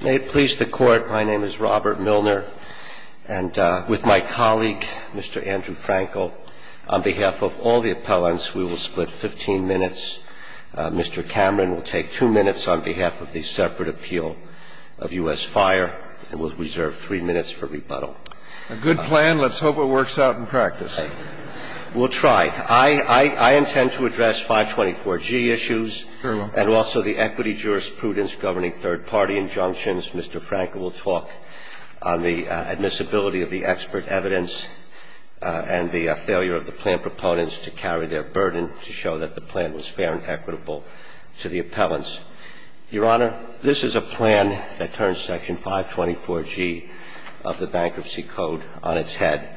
May it please the Court, my name is Robert Milner, and with my colleague, Mr. Andrew Frankel, on behalf of all the appellants, we will split 15 minutes. Mr. Cameron will take two minutes on behalf of the separate appeal of U.S. Fire, and we'll reserve three minutes for rebuttal. A good plan. Let's hope it works out in practice. We'll try. I intend to address 524G issues. And also the equity jurisprudence governing third-party injunctions. Mr. Frankel will talk on the admissibility of the expert evidence and the failure of the plan proponents to carry their burden to show that the plan was fair and equitable to the appellants. Your Honor, this is a plan that turns Section 524G of the Bankruptcy Code on its head.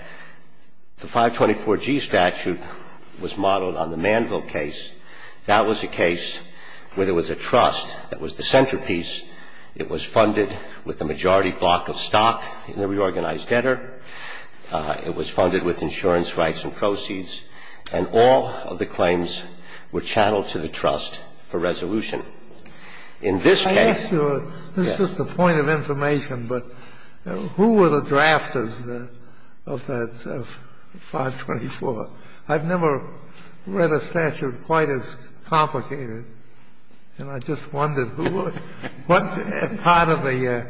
The 524G statute was modeled on the Manville case. That was a case where there was a trust that was the centerpiece. It was funded with a majority block of stock in the reorganized debtor. It was funded with insurance rights and proceeds. And all of the claims were channeled to the trust for resolution. In this case, yes. I ask you, this is just a point of information, but who were the drafters of that 524? I've never read a statute quite as complicated, and I just wondered who were, what part of the,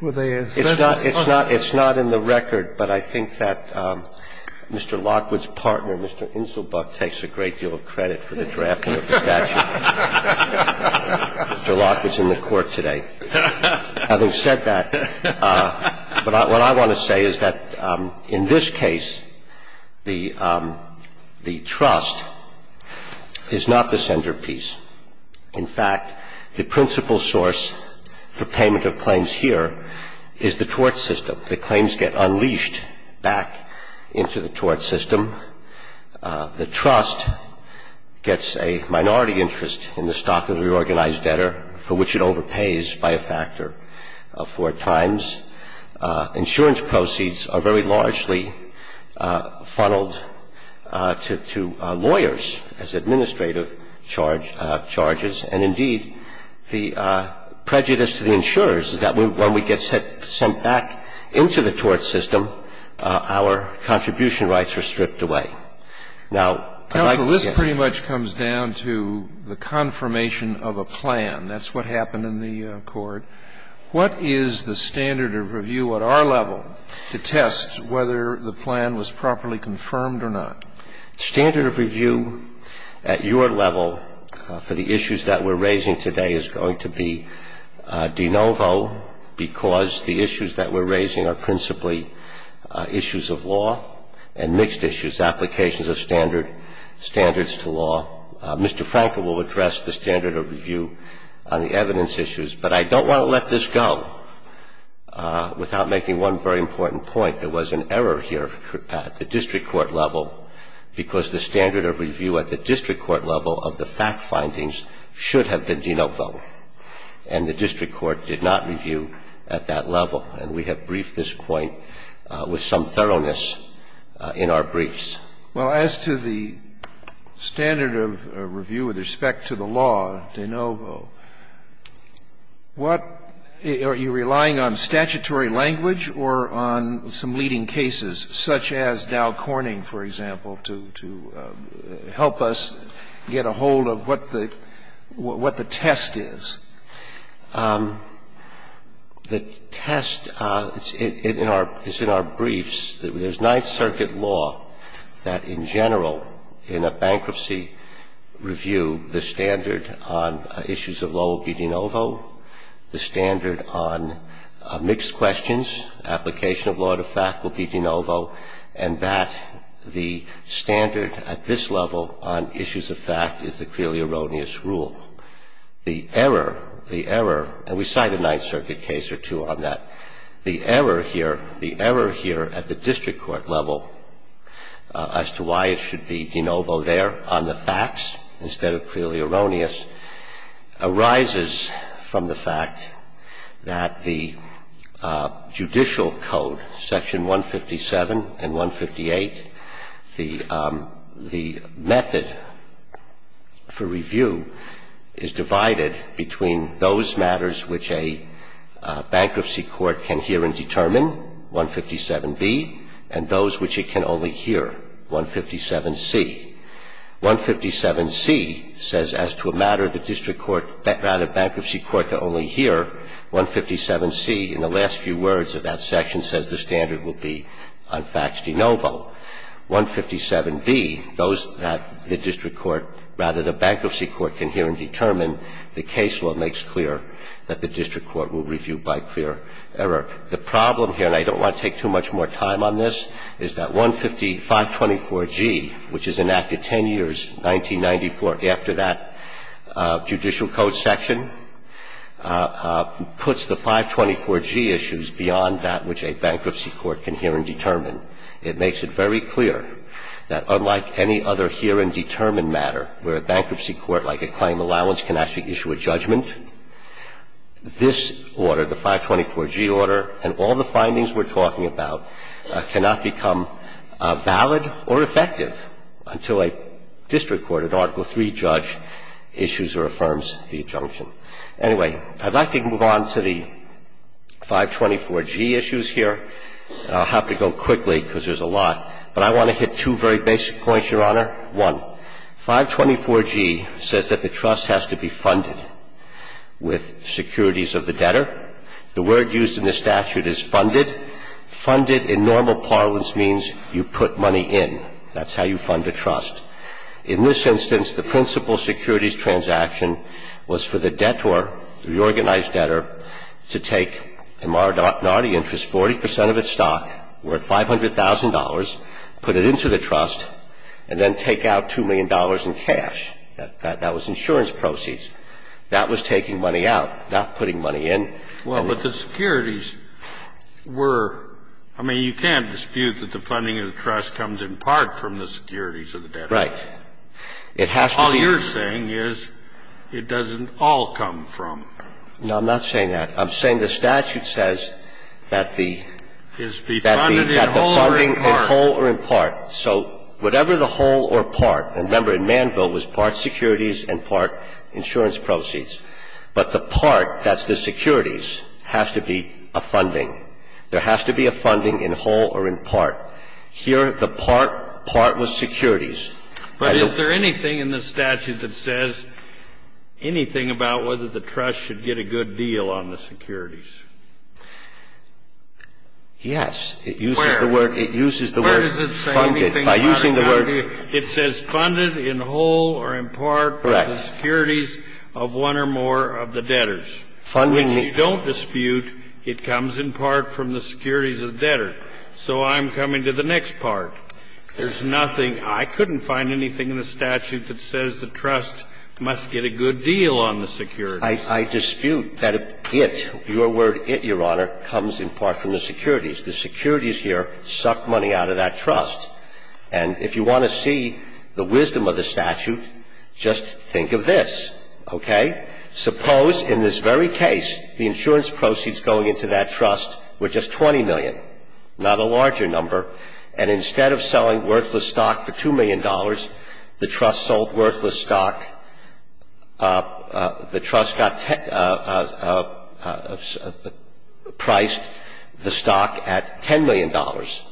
were they as business partners? It's not in the record, but I think that Mr. Lockwood's partner, Mr. Inselbuck, Mr. Lockwood's in the Court today. Having said that, what I want to say is that in this case, the trust is not the centerpiece. In fact, the principal source for payment of claims here is the tort system. The claims get unleashed back into the tort system. The trust gets a minority interest in the stock of the reorganized debtor for which it overpays by a factor of four times. Insurance proceeds are very largely funneled to lawyers as administrative charges, and indeed, the prejudice to the insurers is that when we get sent back into the tort system, our contribution rights are stripped away. Now, I'd like to get to that. Counsel, this pretty much comes down to the confirmation of a plan. That's what happened in the Court. What is the standard of review at our level to test whether the plan was properly confirmed or not? Standard of review at your level for the issues that we're raising today is going to be de novo because the issues that we're raising are principally issues of law and mixed issues, applications of standards to law. Mr. Frankel will address the standard of review on the evidence issues, but I don't want to let this go without making one very important point. There was an error here at the district court level because the standard of review at the district court level of the fact findings should have been de novo, and the district court did not review at that level, and we have briefed this point with some thoroughness in our briefs. Well, as to the standard of review with respect to the law, de novo, what are you relying on, statutory language or on some leading cases, such as Dow Corning, for example, to help us get a hold of what the test is? The test is in our briefs. There's Ninth Circuit law that in general, in a bankruptcy review, the standard on issues of law will be de novo, the standard on mixed questions, application of law to fact will be de novo, and that the standard at this level on issues of fact is the clearly erroneous rule. The error, the error, and we cite a Ninth Circuit case or two on that. The error here, the error here at the district court level as to why it should be de novo there on the facts instead of clearly erroneous arises from the fact that the judicial code, section 157 and 158, the method for review is divided between those matters which a bankruptcy court can hear and determine, 157b, and those which it can only hear, 157c. 157c says as to a matter the district court, rather bankruptcy court can only hear, 157c in the last few words of that section says the standard will be on facts de novo. 157d, those that the district court, rather the bankruptcy court can hear and determine, the case law makes clear that the district court will review by clear error. The problem here, and I don't want to take too much more time on this, is that 15524g, which is enacted 10 years, 1994, after that judicial code section, puts the 524g issues beyond that which a bankruptcy court can hear and determine. It makes it very clear that unlike any other hear and determine matter where a bankruptcy court, like a claim allowance, can actually issue a judgment, this order, the 524g order, and all the findings we're talking about cannot become valid or effective until a district court, an Article III judge, issues or affirms the adjunction. Anyway, I'd like to move on to the 524g issues here. I'll have to go quickly because there's a lot. But I want to hit two very basic points, Your Honor. One, 524g says that the trust has to be funded with securities of the debtor. The word used in the statute is funded. Funded in normal parlance means you put money in. That's how you fund a trust. In this instance, the principal securities transaction was for the debtor, the organized debtor, to take a minority interest, 40 percent of its stock, worth $500,000, put it into the trust, and then take out $2 million in cash. That was insurance proceeds. That was taking money out, not putting money in. Well, but the securities were – I mean, you can't dispute that the funding of the trust comes in part from the securities of the debtor. Right. It has to be. All you're saying is it doesn't all come from. No, I'm not saying that. I'm saying the statute says that the – that the funding is whole or in part. So whatever the whole or part – and remember, in Manville, it was part securities and part insurance proceeds. But the part, that's the securities, has to be a funding. There has to be a funding in whole or in part. Here, the part, part was securities. But is there anything in the statute that says anything about whether the trust should get a good deal on the securities? Yes. It uses the word. It uses the word funded. Where does it say anything about it? By using the word – It says funded in whole or in part by the securities of one or more of the debtors. Funding the – Which you don't dispute. It comes in part from the securities of the debtor. So I'm coming to the next part. There's nothing – I couldn't find anything in the statute that says the trust must get a good deal on the securities. I dispute that it – your word, it, Your Honor, comes in part from the securities. The securities here suck money out of that trust. And if you want to see the wisdom of the statute, just think of this, okay? Suppose in this very case the insurance proceeds going into that trust were just 20 million, not a larger number, and instead of selling worthless stock for $2 million, the trust got – priced the stock at $10 million.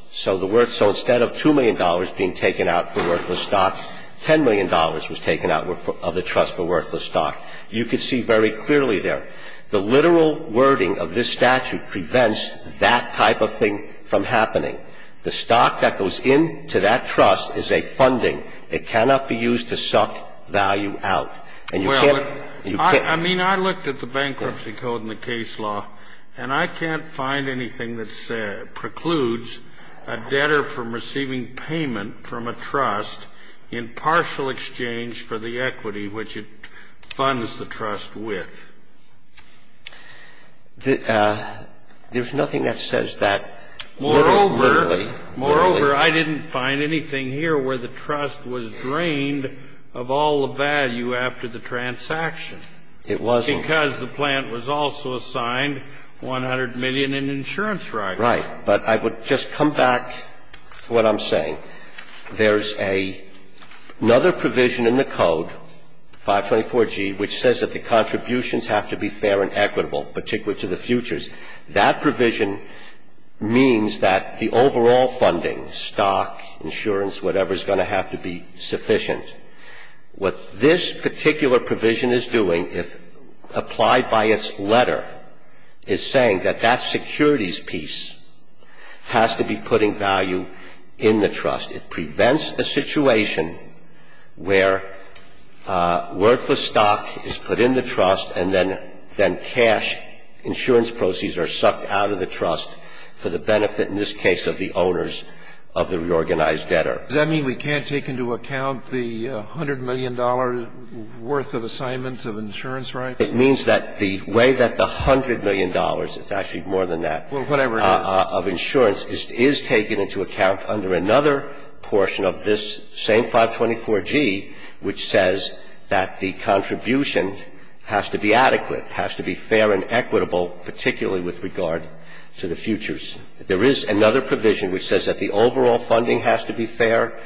So the – so instead of $2 million being taken out for worthless stock, $10 million was taken out of the trust for worthless stock. You can see very clearly there. The literal wording of this statute prevents that type of thing from happening. The stock that goes into that trust is a funding. It cannot be used to suck value out. And you can't – I mean, I looked at the Bankruptcy Code and the case law, and I can't find anything that precludes a debtor from receiving payment from a trust in partial exchange for the equity which it funds the trust with. There's nothing that says that literally. Moreover, I didn't find anything here where the trust was drained of all the value after the transaction because the plant was also assigned 100 million in insurance rights. Right. But I would just come back to what I'm saying. There's another provision in the Code, 524G, which says that the contributions have to be fair and equitable, particularly to the futures. That provision means that the overall funding, stock, insurance, whatever, is going to have to be sufficient. What this particular provision is doing, if applied by its letter, is saying that that securities piece has to be putting value in the trust. It prevents a situation where worthless stock is put in the trust and then cash insurance proceeds are sucked out of the trust for the benefit, in this case, of the owners of the reorganized debtor. Does that mean we can't take into account the $100 million worth of assignments of insurance rights? It means that the way that the $100 million, it's actually more than that, of insurance is taken into account under another portion of this same 524G which says that the contribution has to be adequate, has to be fair and equitable, particularly with regard to the futures. There is another provision which says that the overall funding has to be fair,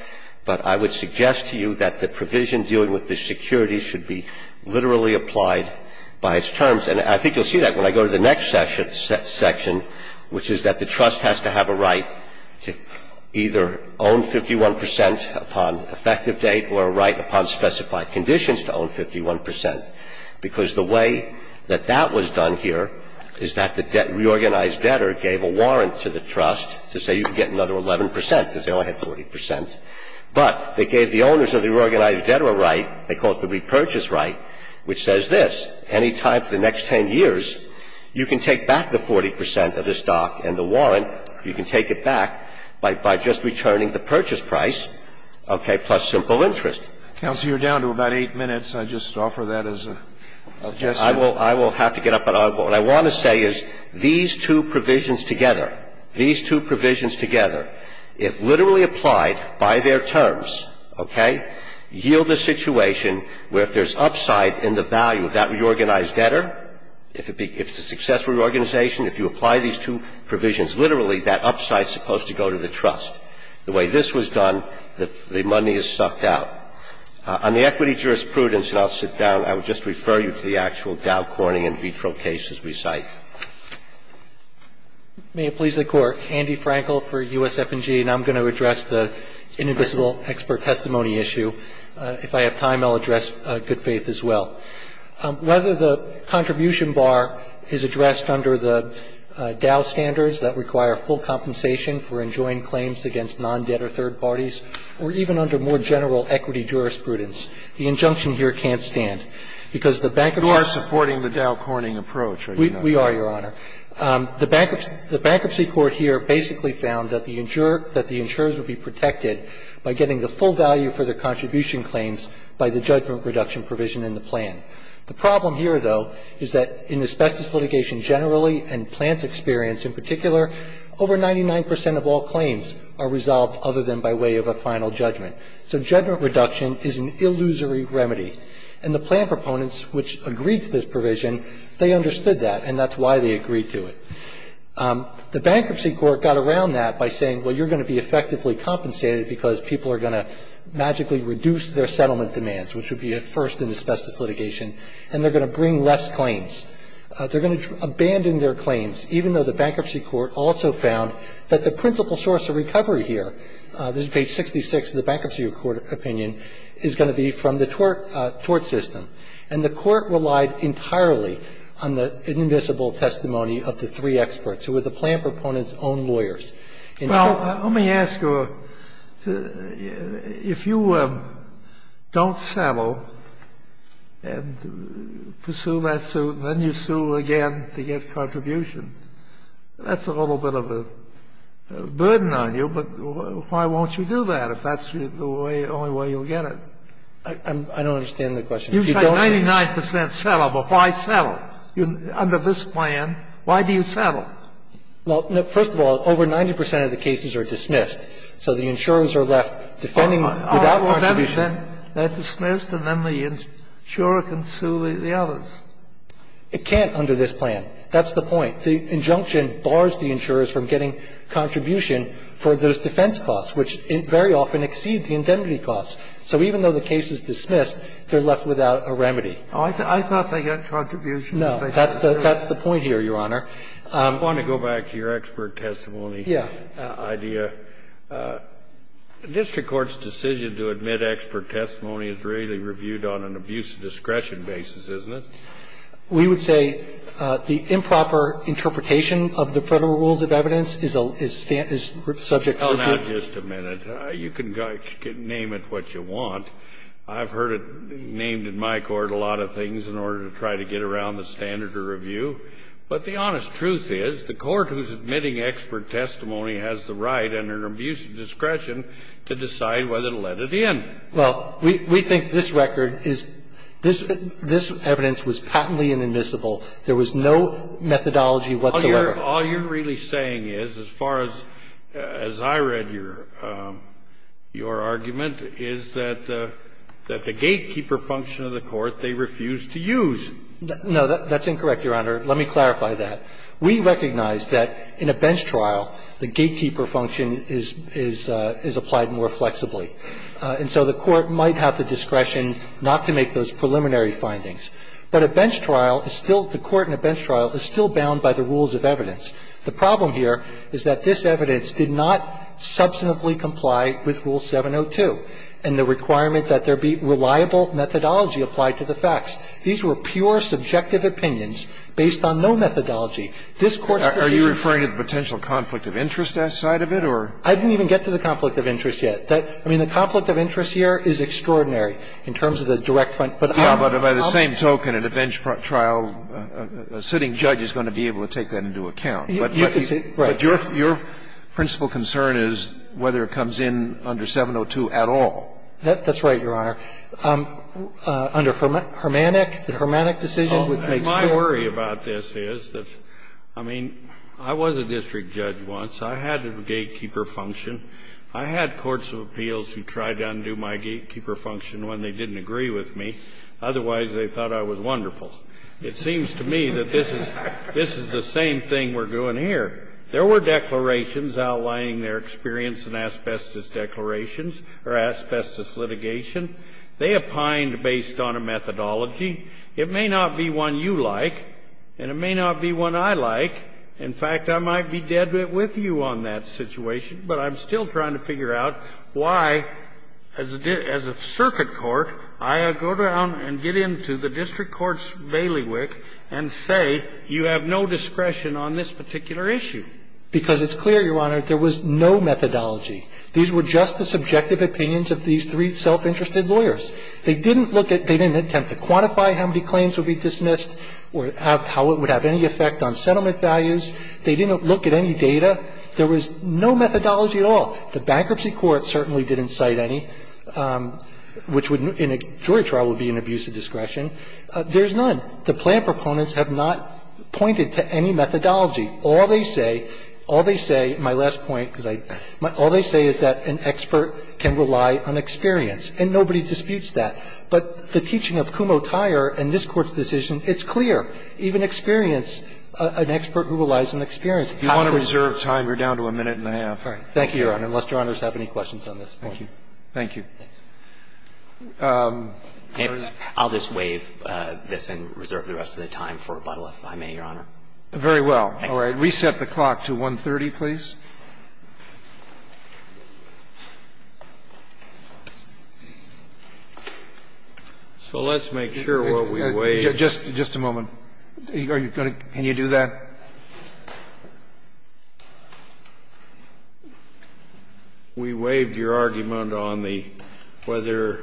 but I would suggest to you that the provision dealing with the securities should be literally applied by its terms. And I think you'll see that when I go to the next section, which is that the trust has to have a right to either own 51 percent upon effective date or a right upon specified conditions to own 51 percent, because the way that that was done here is that the reorganized debtor gave a warrant to the trust to say you can get another 11 percent because they only had 40 percent. But they gave the owners of the reorganized debtor a right, they call it the repurchase right, which says this. Any time for the next 10 years, you can take back the 40 percent of the stock and the warrant, you can take it back by just returning the purchase price, okay, plus simple interest. Counsel, you're down to about 8 minutes. I just offer that as a suggestion. I will have to get up, but what I want to say is these two provisions together, these two provisions together, if literally applied by their terms, okay, yield a situation where if there's upside in the value of that reorganized debtor, if it's a successful reorganization, if you apply these two provisions, literally that upside is supposed to go to the trust. The way this was done, the money is sucked out. On the equity jurisprudence, and I'll sit down, I would just refer you to the actual Dow Corning in vitro cases we cite. May it please the Court. Andy Frankel for USF&G, and I'm going to address the inadmissible expert testimony issue. If I have time, I'll address good faith as well. Whether the contribution bar is addressed under the Dow standards that require full compensation for enjoined claims against non-debtor third parties, or even under more general equity jurisprudence, the injunction here can't stand, because the bankruptcy court here basically found that the insurer, that the insurers would be protected by getting the full value for their contribution claims by the judgment reduction provision in the plan. The problem here, though, is that in asbestos litigation generally and plans experience in particular, over 99 percent of all claims are resolved other than by way of a final judgment. So judgment reduction is an illusory remedy. And the plan proponents, which agreed to this provision, they understood that, and that's why they agreed to it. The bankruptcy court got around that by saying, well, you're going to be effectively compensated because people are going to magically reduce their settlement demands, which would be a first in asbestos litigation, and they're going to bring less claims. They're going to abandon their claims, even though the bankruptcy court also found that the principal source of recovery here, this is page 66 of the bankruptcy court opinion, is going to be from the tort system. And the court relied entirely on the invisible testimony of the three experts, who were the plan proponents' own lawyers. Kennedy. Well, let me ask you, if you don't settle and pursue that suit and then you sue again to get contribution, that's a little bit of a burden on you, but why won't you do that if that's the way, only way you'll get it? I don't understand the question. You say 99 percent settle, but why settle? Under this plan, why do you settle? Well, first of all, over 90 percent of the cases are dismissed. So the insurers are left defending without contribution. They're dismissed and then the insurer can sue the others. It can't under this plan. That's the point. The injunction bars the insurers from getting contribution for those defense costs, which very often exceed the indemnity costs. So even though the case is dismissed, they're left without a remedy. I thought they got contribution. No, that's the point here, Your Honor. I want to go back to your expert testimony idea. District court's decision to admit expert testimony is really reviewed on an abuse of discretion basis, isn't it? We would say the improper interpretation of the Federal rules of evidence is subject to review. Hold on just a minute. You can name it what you want. I've heard it named in my court a lot of things in order to try to get around the standard of review. But the honest truth is the court who's admitting expert testimony has the right under an abuse of discretion to decide whether to let it in. Well, we think this record is this evidence was patently inadmissible. There was no methodology whatsoever. All you're really saying is, as far as I read your argument, is that the gatekeeper function of the court they refused to use. No, that's incorrect, Your Honor. Let me clarify that. We recognize that in a bench trial, the gatekeeper function is applied more flexibly. And so the court might have the discretion not to make those preliminary findings. But a bench trial is still the court in a bench trial is still bound by the rules of evidence. The problem here is that this evidence did not substantively comply with Rule 702 and the requirement that there be reliable methodology applied to the facts. These were pure subjective opinions based on no methodology. This Court's decision to do that. Are you referring to the potential conflict of interest side of it, or? I didn't even get to the conflict of interest yet. I mean, the conflict of interest here is extraordinary in terms of the direct front, but I'm not going to comment on that. Yeah, but by the same token, in a bench trial, a sitting judge is going to be able to take that into account. You can say, right. But your principal concern is whether it comes in under 702 at all. That's right, Your Honor. Under Hermannick, the Hermannick decision, which makes four. My worry about this is that, I mean, I was a district judge once. I had a gatekeeper function. I had courts of appeals who tried to undo my gatekeeper function when they didn't agree with me. Otherwise, they thought I was wonderful. It seems to me that this is the same thing we're doing here. There were declarations outlining their experience in asbestos declarations or asbestos litigation. They opined based on a methodology. It may not be one you like, and it may not be one I like. In fact, I might be dead with you on that situation, but I'm still trying to figure out why, as a circuit court, I go down and get into the district court's bailiwick and say you have no discretion on this particular issue. Because it's clear, Your Honor, there was no methodology. These were just the subjective opinions of these three self-interested lawyers. They didn't look at they didn't attempt to quantify how many claims would be dismissed or how it would have any effect on settlement values. They didn't look at any data. There was no methodology at all. The Bankruptcy Court certainly didn't cite any, which in a jury trial would be an abuse of discretion. There's none. The plan proponents have not pointed to any methodology. All they say, all they say, my last point, because I, all they say is that an expert can rely on experience, and nobody disputes that. But the teaching of Kumho-Tyer and this Court's decision, it's clear. Even experience, an expert who relies on experience has to. Roberts. You want to reserve time? You're down to a minute and a half. Thank you, Your Honor, unless Your Honors have any questions on this point. Thank you. I'll just waive this and reserve the rest of the time for rebuttal, if I may, Your Honor. Very well. All right. Reset the clock to 1.30, please. So let's make sure what we waived. Just a moment. Are you going to, can you do that? We waived your argument on the whether,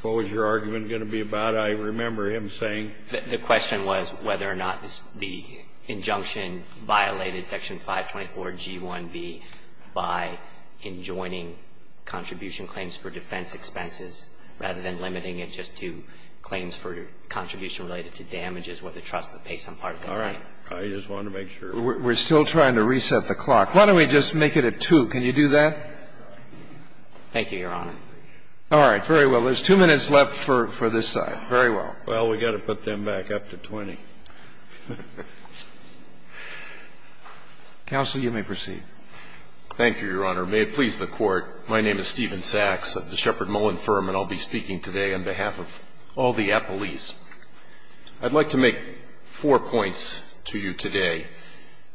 what was your argument going to be about? The question was whether or not the injunction violated Section 524G1B by enjoining contribution claims for defense expenses, rather than limiting it just to claims for contribution related to damages where the trust would pay some part of the claim. All right. I just wanted to make sure. We're still trying to reset the clock. Why don't we just make it a 2? Can you do that? Thank you, Your Honor. All right. Very well. There's two minutes left for this side. Very well. Well, we've got to put them back up to 20. Counsel, you may proceed. Thank you, Your Honor. May it please the Court. My name is Stephen Sachs of the Shepherd Mullen Firm, and I'll be speaking today on behalf of all the appellees. I'd like to make four points to you today.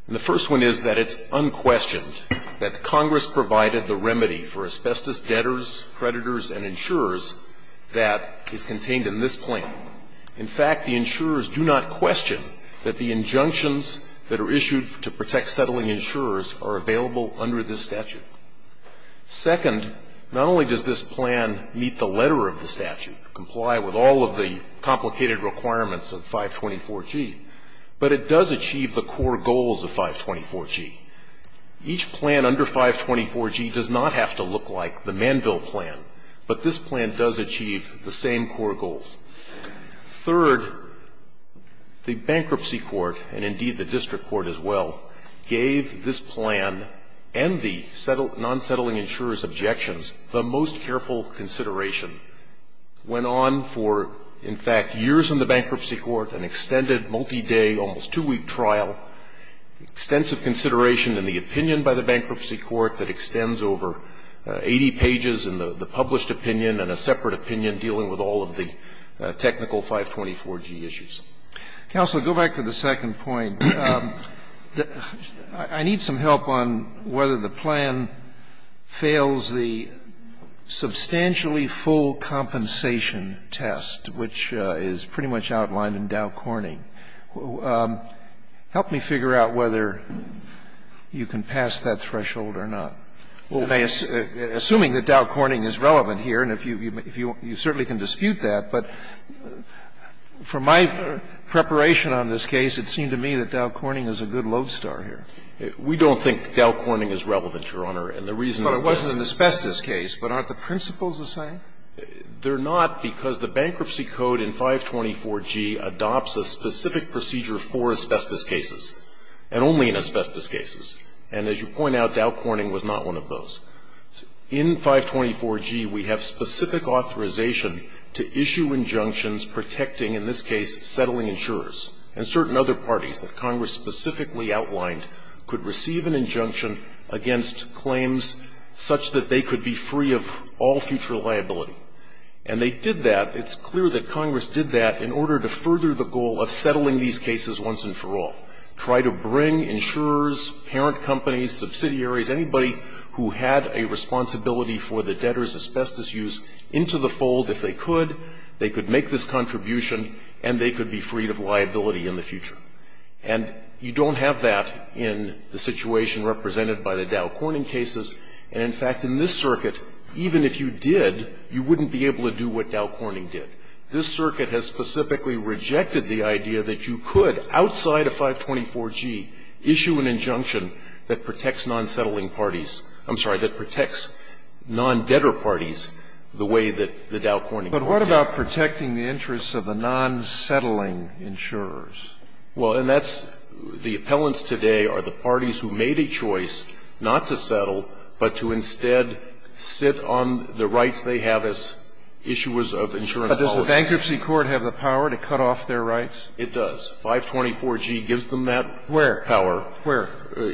The first one is that it's unquestioned that Congress provided the remedy for asbestos debtors, creditors, and insurers that is contained in this plan. In fact, the insurers do not question that the injunctions that are issued to protect settling insurers are available under this statute. Second, not only does this plan meet the letter of the statute, comply with all of the complicated requirements of 524G, but it does achieve the core goals of 524G. Each plan under 524G does not have to look like the Manville plan, but this plan does achieve the same core goals. Third, the bankruptcy court, and indeed the district court as well, gave this plan and the non-settling insurer's objections the most careful consideration, went on for, in fact, years in the bankruptcy court, an extended multi-day, almost two-week trial, extensive consideration in the opinion by the bankruptcy court that extends over 80 pages in the published opinion and a separate opinion dealing with all of the technical 524G issues. Counsel, go back to the second point. I need some help on whether the plan fails the substantially full compensation test, which is pretty much outlined in Dow Corning. Help me figure out whether you can pass that threshold or not. Assuming that Dow Corning is relevant here, and you certainly can dispute that, but from my preparation on this case, it seemed to me that Dow Corning is a good lodestar here. We don't think Dow Corning is relevant, Your Honor, and the reason is that it's a good lodestar. But it wasn't an asbestos case, but aren't the principles the same? They're not, because the bankruptcy code in 524G adopts a specific procedure for asbestos cases, and only in asbestos cases. And as you point out, Dow Corning was not one of those. In 524G, we have specific authorization to issue injunctions protecting, in this case, settling insurers. And certain other parties that Congress specifically outlined could receive an injunction against claims such that they could be free of all future liability. And they did that. It's clear that Congress did that in order to further the goal of settling these cases once and for all. Try to bring insurers, parent companies, subsidiaries, anybody who had a responsibility for the debtor's asbestos use into the fold if they could, they could make this contribution, and they could be freed of liability in the future. And you don't have that in the situation represented by the Dow Corning cases. And, in fact, in this circuit, even if you did, you wouldn't be able to do what Dow Corning did. This circuit has specifically rejected the idea that you could, outside of 524G, issue an injunction that protects non-settling parties – I'm sorry, that protects non-debtor parties the way that the Dow Corning did. But what about protecting the interests of the non-settling insurers? Well, and that's – the appellants today are the parties who made a choice not to settle, but to instead sit on the rights they have as issuers of insurance policies. But does the bankruptcy court have the power to cut off their rights? It does. 524G gives them that power. Where? Where?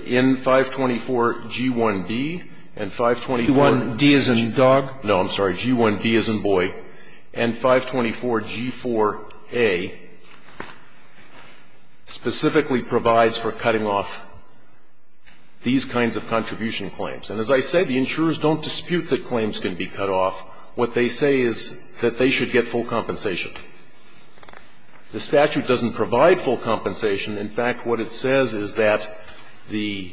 In 524G1B and 524G2B. G1D as in dog? No, I'm sorry. G1B as in boy. And 524G4A specifically provides for cutting off these kinds of contribution claims. And as I said, the insurers don't dispute that claims can be cut off. What they say is that they should get full compensation. The statute doesn't provide full compensation. In fact, what it says is that the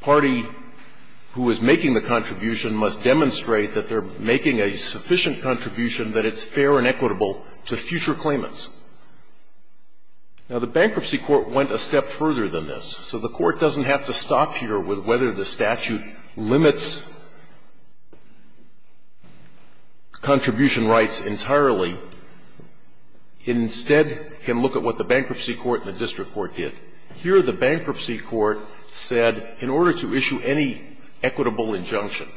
party who is making the contribution must demonstrate that they're making a sufficient contribution that it's fair and equitable to future claimants. Now, the bankruptcy court went a step further than this. So the court doesn't have to stop here with whether the statute limits contribution rights entirely. It instead can look at what the bankruptcy court and the district court did. Here the bankruptcy court said, in order to issue any equitable injunction,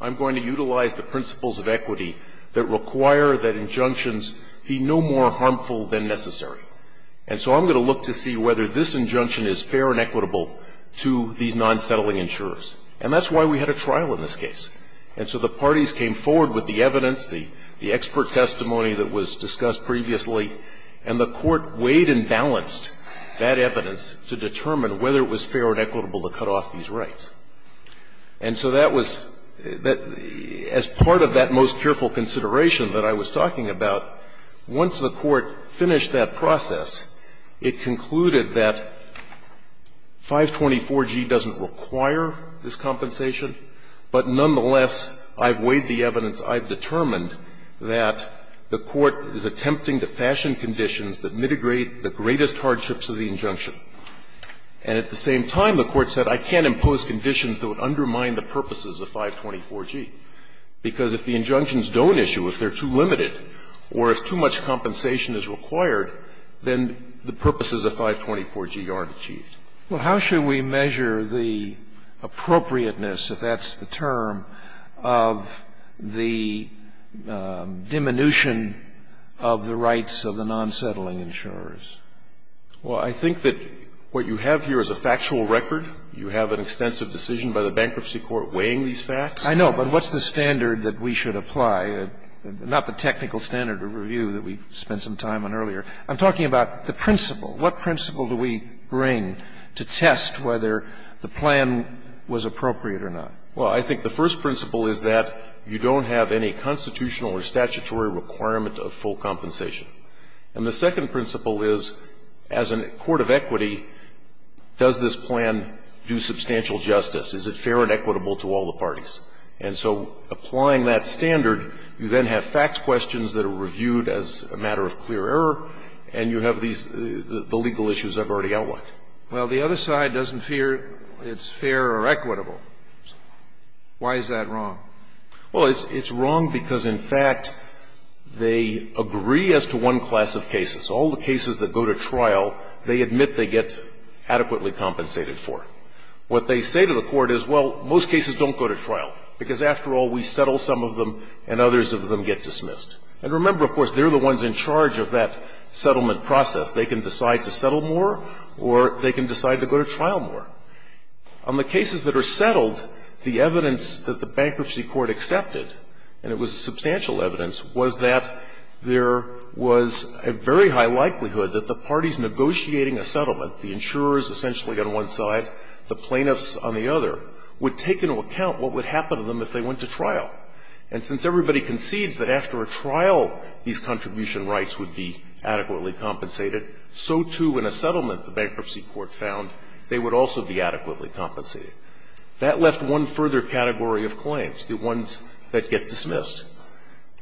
I'm going to utilize the principles of equity that require that injunctions be no more harmful than necessary. And so I'm going to look to see whether this injunction is fair and equitable to these non-settling insurers. And that's why we had a trial in this case. And so the parties came forward with the evidence, the expert testimony that was discussed previously, and the court weighed and balanced that evidence to determine whether it was fair and equitable to cut off these rights. And so that was the as part of that most careful consideration that I was talking about, once the court finished that process, it concluded that 524G doesn't require this compensation, but nonetheless, I've weighed the evidence, I've determined that the court is attempting to fashion conditions that mitigate the greatest hardships of the injunction. And at the same time, the court said, I can't impose conditions that would undermine the purposes of 524G, because if the injunctions don't issue, if they're too limited or if too much compensation is required, then the purposes of 524G aren't achieved. Well, how should we measure the appropriateness, if that's the term, of the diminution of the rights of the non-settling insurers? Well, I think that what you have here is a factual record. You have an extensive decision by the bankruptcy court weighing these facts. I know, but what's the standard that we should apply? Not the technical standard of review that we spent some time on earlier. I'm talking about the principle. What principle do we bring to test whether the plan was appropriate or not? Well, I think the first principle is that you don't have any constitutional or statutory requirement of full compensation. And the second principle is, as a court of equity, does this plan do substantial justice? Is it fair and equitable to all the parties? And so applying that standard, you then have facts questions that are reviewed as a matter of clear error, and you have these legal issues I've already outlined. Well, the other side doesn't fear it's fair or equitable. Why is that wrong? Well, it's wrong because, in fact, they agree as to one class of cases. All the cases that go to trial, they admit they get adequately compensated for. What they say to the court is, well, most cases don't go to trial, because, after all, we settle some of them and others of them get dismissed. And remember, of course, they're the ones in charge of that settlement process. They can decide to settle more or they can decide to go to trial more. On the cases that are settled, the evidence that the Bankruptcy Court accepted, and it was substantial evidence, was that there was a very high likelihood that the parties negotiating a settlement, the insurers essentially on one side, the plaintiffs on the other, would take into account what would happen to them if they went to trial. And since everybody concedes that after a trial, these contribution rights would be adequately compensated, so, too, in a settlement the Bankruptcy Court found, they would also be adequately compensated. That left one further category of claims, the ones that get dismissed.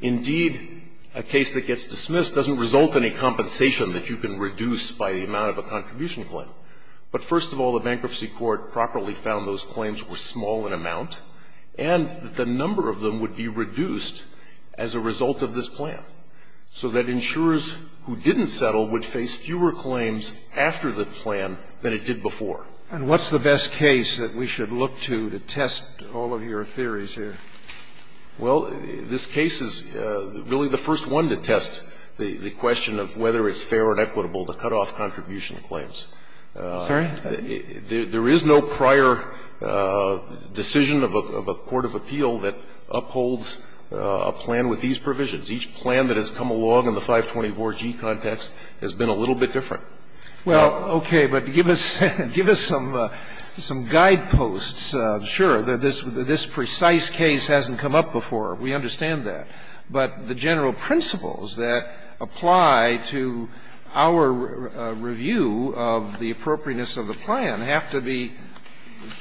Indeed, a case that gets dismissed doesn't result in a compensation that you can reduce by the amount of a contribution claim. But, first of all, the Bankruptcy Court properly found those claims were small in amount and that the number of them would be reduced as a result of this plan, so that insurers who didn't settle would face fewer claims after the plan than it did before. And what's the best case that we should look to, to test all of your theories here? Well, this case is really the first one to test the question of whether it's fair and equitable to cut off contribution claims. Sorry? There is no prior decision of a court of appeal that upholds a plan with these provisions. Each plan that has come along in the 524G context has been a little bit different. Well, okay, but give us some guideposts. Sure, this precise case hasn't come up before. We understand that. But the general principles that apply to our review of the appropriateness of the plan have to be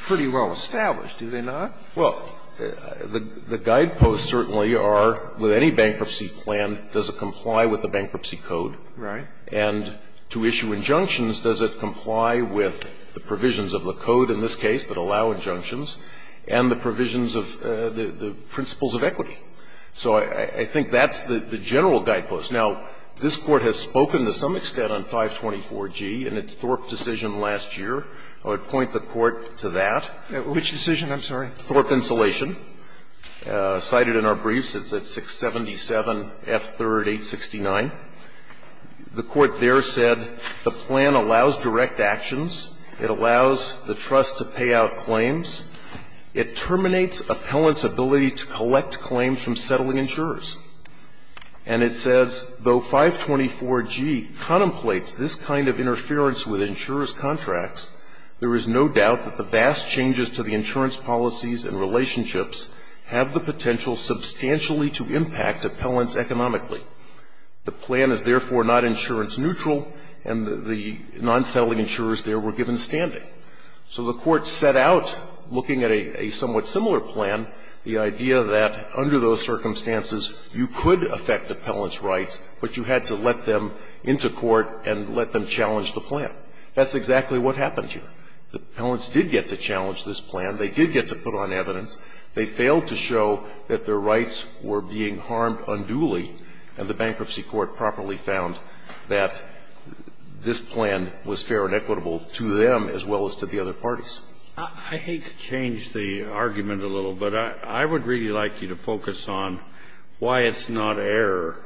pretty well established, do they not? Well, the guideposts certainly are, with any bankruptcy plan, does it comply with the bankruptcy code? Right. And to issue injunctions, does it comply with the provisions of the code in this case that allow injunctions and the provisions of the principles of equity? So I think that's the general guidepost. Now, this Court has spoken to some extent on 524G in its Thorpe decision last year. I would point the Court to that. Which decision? I'm sorry. Thorpe insulation. Cited in our briefs, it's at 677F3-869. The Court there said the plan allows direct actions. It allows the trust to pay out claims. It terminates appellants' ability to collect claims from settling insurers. And it says, Though 524G contemplates this kind of interference with insurers' contracts, there is no doubt that the vast changes to the insurance policies and relationships have the potential substantially to impact appellants economically. The plan is therefore not insurance neutral, and the non-settling insurers there were given standing. So the Court set out, looking at a somewhat similar plan, the idea that under those circumstances, you could affect appellants' rights, but you had to let them into court and let them challenge the plan. That's exactly what happened here. The appellants did get to challenge this plan. They did get to put on evidence. They failed to show that their rights were being harmed unduly, and the Bankruptcy Court properly found that this plan was fair and equitable to them as well as to the other parties. I hate to change the argument a little, but I would really like you to focus on why it's not error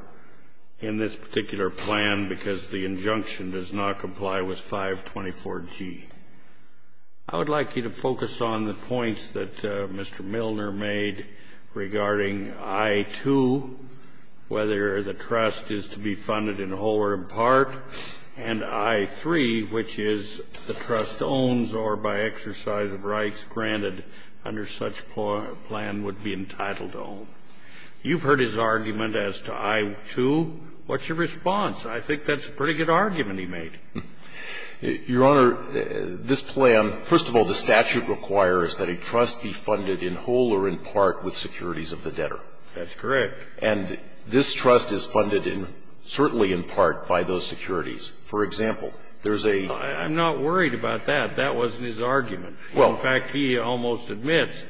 in this particular plan because the injunction does not comply with 524G. I would like you to focus on the points that Mr. Milner made regarding I-2, whether the trust is to be funded in whole or in part, and I-3, which is the trust owns or by exercise of rights granted under such plan would be entitled to own. You've heard his argument as to I-2. What's your response? I think that's a pretty good argument he made. Your Honor, this plan, first of all, the statute requires that a trust be funded in whole or in part with securities of the debtor. That's correct. And this trust is funded in, certainly in part, by those securities. For example, there's a --. I'm not worried about that. That wasn't his argument. Well, in fact, he almost admits,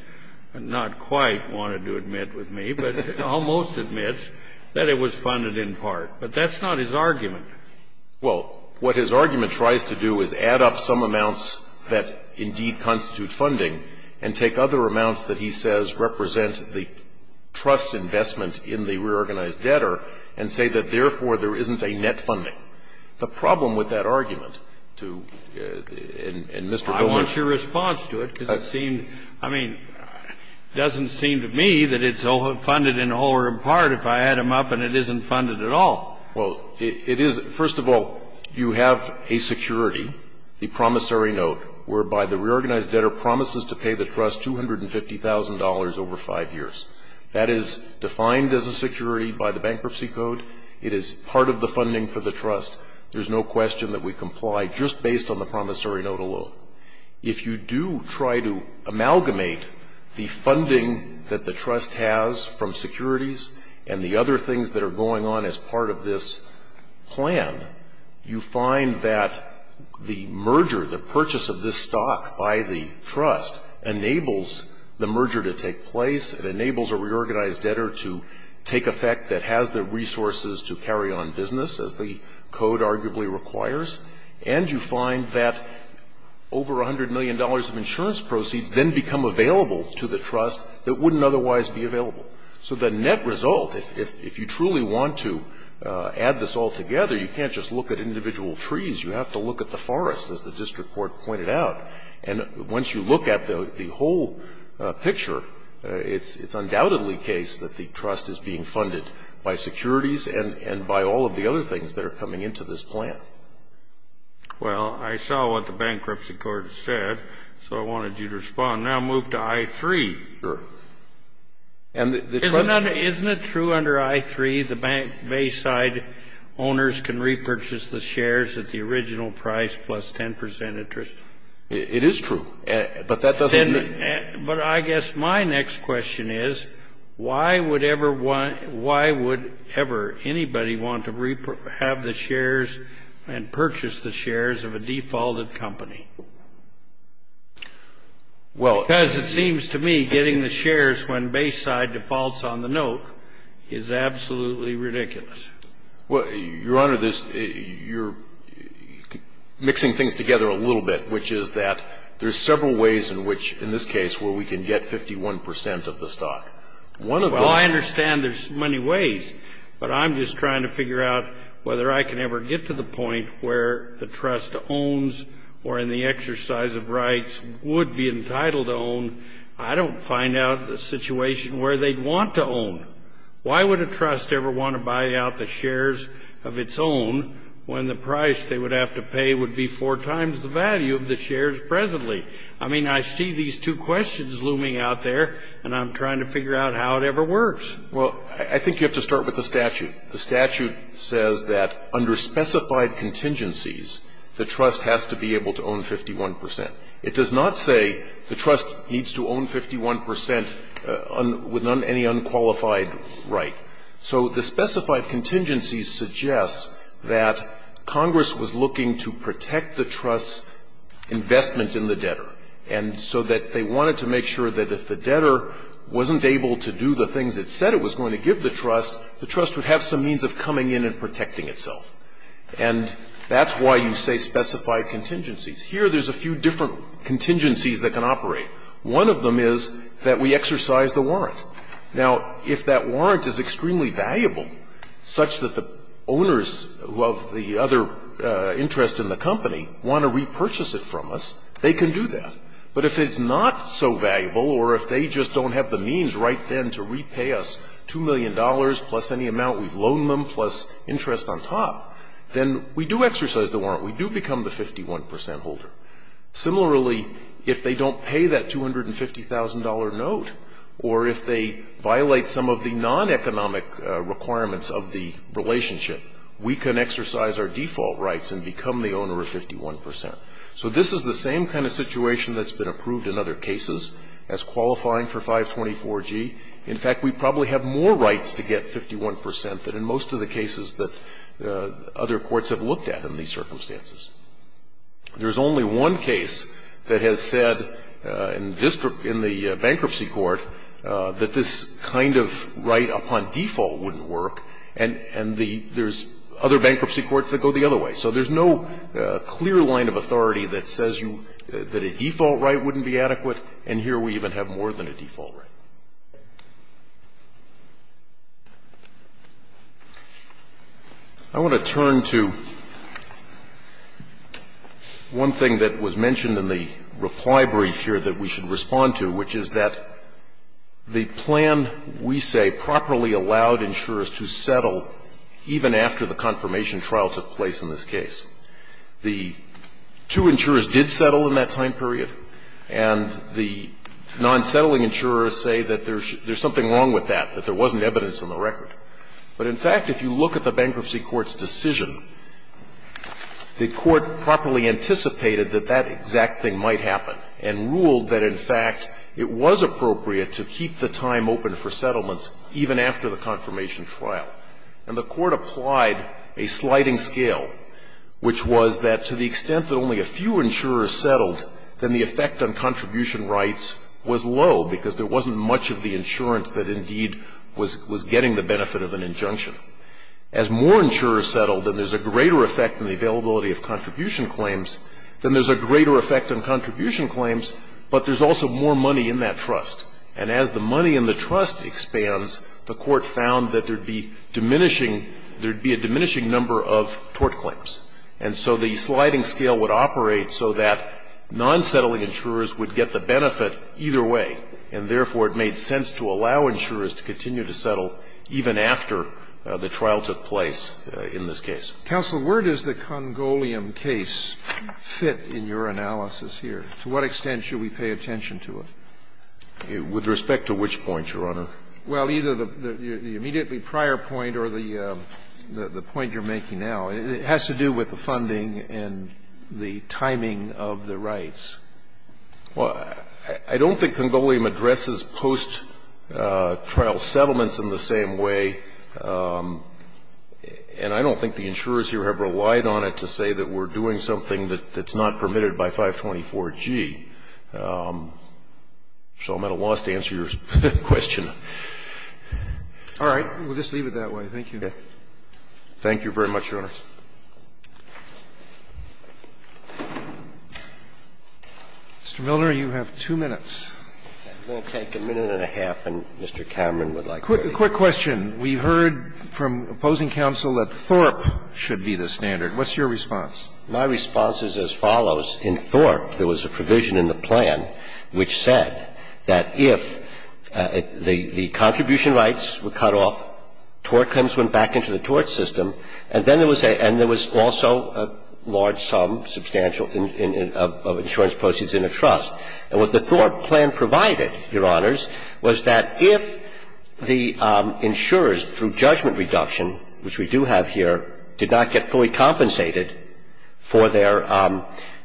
and not quite wanted to admit with me, but almost admits that it was funded in part. But that's not his argument. Well, what his argument tries to do is add up some amounts that indeed constitute funding and take other amounts that he says represent the trust's investment in the reorganized debtor and say that, therefore, there isn't a net funding. The problem with that argument to the --. And Mr. Milner ---- I want your response to it, because it seemed, I mean, it doesn't seem to me that it's funded in whole or in part if I add them up and it isn't funded at all. Well, it is ---- first of all, you have a security, the promissory note, whereby the reorganized debtor promises to pay the trust $250,000 over 5 years. That is defined as a security by the Bankruptcy Code. It is part of the funding for the trust. There's no question that we comply just based on the promissory note alone. If you do try to amalgamate the funding that the trust has from securities and the other things that are going on as part of this plan, you find that the merger, the purchase of this stock by the trust, enables the merger to take place, it enables a reorganized debtor to take effect that has the resources to carry on business, as the Code arguably requires, and you find that over $100 million of insurance proceeds then become available to the trust that wouldn't otherwise be available. So the net result, if you truly want to add this all together, you can't just look at individual trees, you have to look at the forest, as the district court pointed out. And once you look at the whole picture, it's undoubtedly the case that the trust is being funded by securities and by all of the other things that are coming into this plan. Well, I saw what the Bankruptcy Court said, so I wanted you to respond. Now move to I-3. Sure. Isn't it true under I-3 the Bayside owners can repurchase the shares at the original price plus 10% interest? It is true, but that doesn't mean. But I guess my next question is, why would ever anybody want to have the shares and the shares when Bayside defaults on the note is absolutely ridiculous? Well, Your Honor, you're mixing things together a little bit, which is that there's several ways in which, in this case, where we can get 51% of the stock. Well, I understand there's many ways, but I'm just trying to figure out whether I can ever get to the point where the trust owns or in the exercise of rights would be entitled to own. I don't find out a situation where they'd want to own. Why would a trust ever want to buy out the shares of its own when the price they would have to pay would be four times the value of the shares presently? I mean, I see these two questions looming out there, and I'm trying to figure out how it ever works. Well, I think you have to start with the statute. The statute says that under specified contingencies, the trust has to be able to own 51%. It does not say the trust needs to own 51% with any unqualified right. So the specified contingencies suggest that Congress was looking to protect the trust's investment in the debtor. And so that they wanted to make sure that if the debtor wasn't able to do the things it said it was going to give the trust, the trust would have some means of coming in and protecting itself. And that's why you say specified contingencies. Here, there's a few different contingencies that can operate. One of them is that we exercise the warrant. Now, if that warrant is extremely valuable, such that the owners of the other interest in the company want to repurchase it from us, they can do that. But if it's not so valuable, or if they just don't have the means right then to repay us $2 million plus any amount we've loaned them plus interest on top, then we do exercise the warrant. We do become the 51% holder. Similarly, if they don't pay that $250,000 note, or if they violate some of the non-economic requirements of the relationship, we can exercise our default rights and become the owner of 51%. So this is the same kind of situation that's been approved in other cases as qualifying for 524G. In fact, we probably have more rights to get 51% than in most of the cases that other courts have looked at in these circumstances. There's only one case that has said in the bankruptcy court that this kind of right upon default wouldn't work. And there's other bankruptcy courts that go the other way. So there's no clear line of authority that says that a default right wouldn't be adequate, and here we even have more than a default right. I want to turn to one thing that was mentioned in the reply brief here that we should respond to, which is that the plan, we say, properly allowed insurers to settle even after the confirmation trial took place in this case. The two insurers did settle in that time period, and the non-settling insurers say that there's something wrong with that, that there wasn't evidence in the record. But in fact, if you look at the bankruptcy court's decision, the court properly anticipated that that exact thing might happen and ruled that, in fact, it was appropriate to keep the time open for settlements even after the confirmation trial. And the court applied a sliding scale, which was that to the extent that only a few insurers settled, then the effect on contribution rights was low, because there wasn't much of the insurance that indeed was getting the benefit of an injunction. As more insurers settled, then there's a greater effect on the availability of contribution claims, then there's a greater effect on contribution claims, but there's also more money in that trust. And as the money in the trust expands, the court found that there would be diminishing – there would be a diminishing number of tort claims. And so the sliding scale would operate so that non-settling insurers would get the benefit either way, and therefore, it made sense to allow insurers to continue to settle even after the trial took place in this case. Counsel, where does the Congolium case fit in your analysis here? To what extent should we pay attention to it? With respect to which point, Your Honor? Well, either the immediately prior point or the point you're making now. It has to do with the funding and the timing of the rights. Well, I don't think Congolium addresses post-trial settlements in the same way. And I don't think the insurers here have relied on it to say that we're doing something that's not permitted by 524G. So I'm at a loss to answer your question. All right. We'll just leave it that way. Thank you. Thank you very much, Your Honor. Mr. Miller, you have two minutes. We'll take a minute and a half, and Mr. Cameron would like to continue. A quick question. We heard from opposing counsel that Thorpe should be the standard. What's your response? My response is as follows. In Thorpe, there was a provision in the plan which said that if the contribution rights were cut off, tort claims went back into the tort system, and then there was also a large sum, substantial, of insurance proceeds in a trust. And what the Thorpe plan provided, Your Honors, was that if the insurers, through judgment reduction, which we do have here, did not get fully compensated for their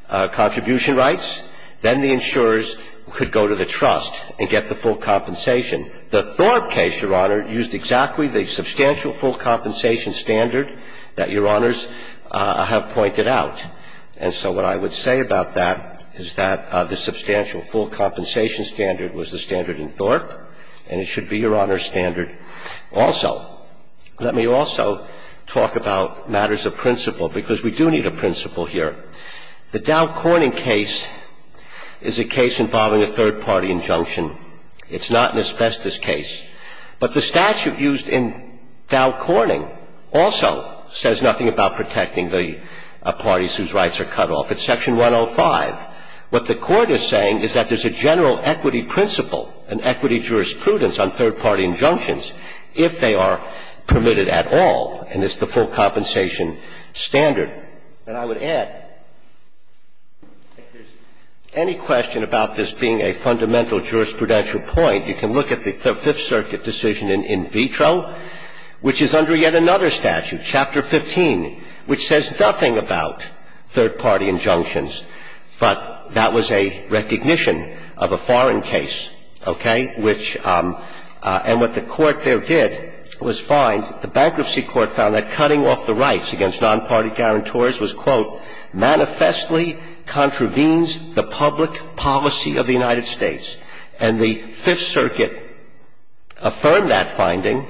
contribution rights, then the insurers could go to the trust and get the full compensation. The Thorpe case, Your Honor, used exactly the substantial full compensation standard that Your Honors have pointed out. And so what I would say about that is that the substantial full compensation standard was the standard in Thorpe, and it should be Your Honor's standard also. Let me also talk about matters of principle, because we do need a principle here. The Dow Corning case is a case involving a third-party injunction. It's not an asbestos case. But the statute used in Dow Corning also says nothing about protecting the parties whose rights are cut off. It's Section 105. What the Court is saying is that there's a general equity principle, an equity jurisprudence on third-party injunctions, if they are permitted at all, and it's the full compensation standard. And I would add, if there's any question about this being a fundamental jurisprudential point, you can look at the Fifth Circuit decision in vitro, which is under yet another statute, Chapter 15, which says nothing about third-party injunctions. But that was a recognition of a foreign case, okay, which – and what the Court there did was find – the Bankruptcy Court found that cutting off the rights against non-party guarantors was, quote, manifestly contravenes the public policy of the United States. And the Fifth Circuit affirmed that finding,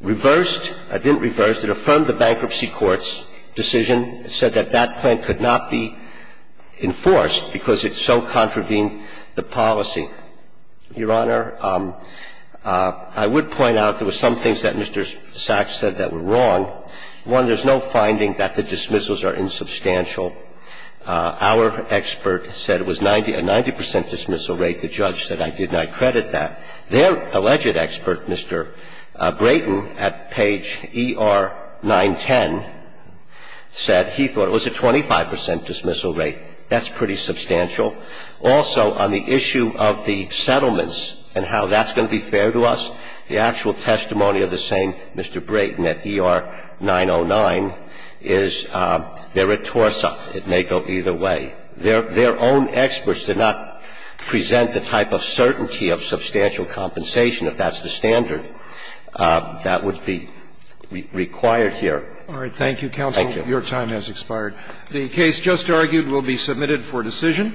reversed – it didn't reverse. It affirmed the Bankruptcy Court's decision, said that that point could not be enforced because it so contravened the policy. Your Honor, I would point out there were some things that Mr. Sachs said that were wrong. One, there's no finding that the dismissals are insubstantial. Our expert said it was 90 – a 90 percent dismissal rate. The judge said, I did not credit that. Their alleged expert, Mr. Brayton, at page ER 910, said he thought it was a 25 percent dismissal rate. That's pretty substantial. Also, on the issue of the settlements and how that's going to be fair to us, the actual It may go either way. Their own experts did not present the type of certainty of substantial compensation if that's the standard that would be required here. Thank you. Thank you, counsel. Your time has expired. The case just argued will be submitted for decision.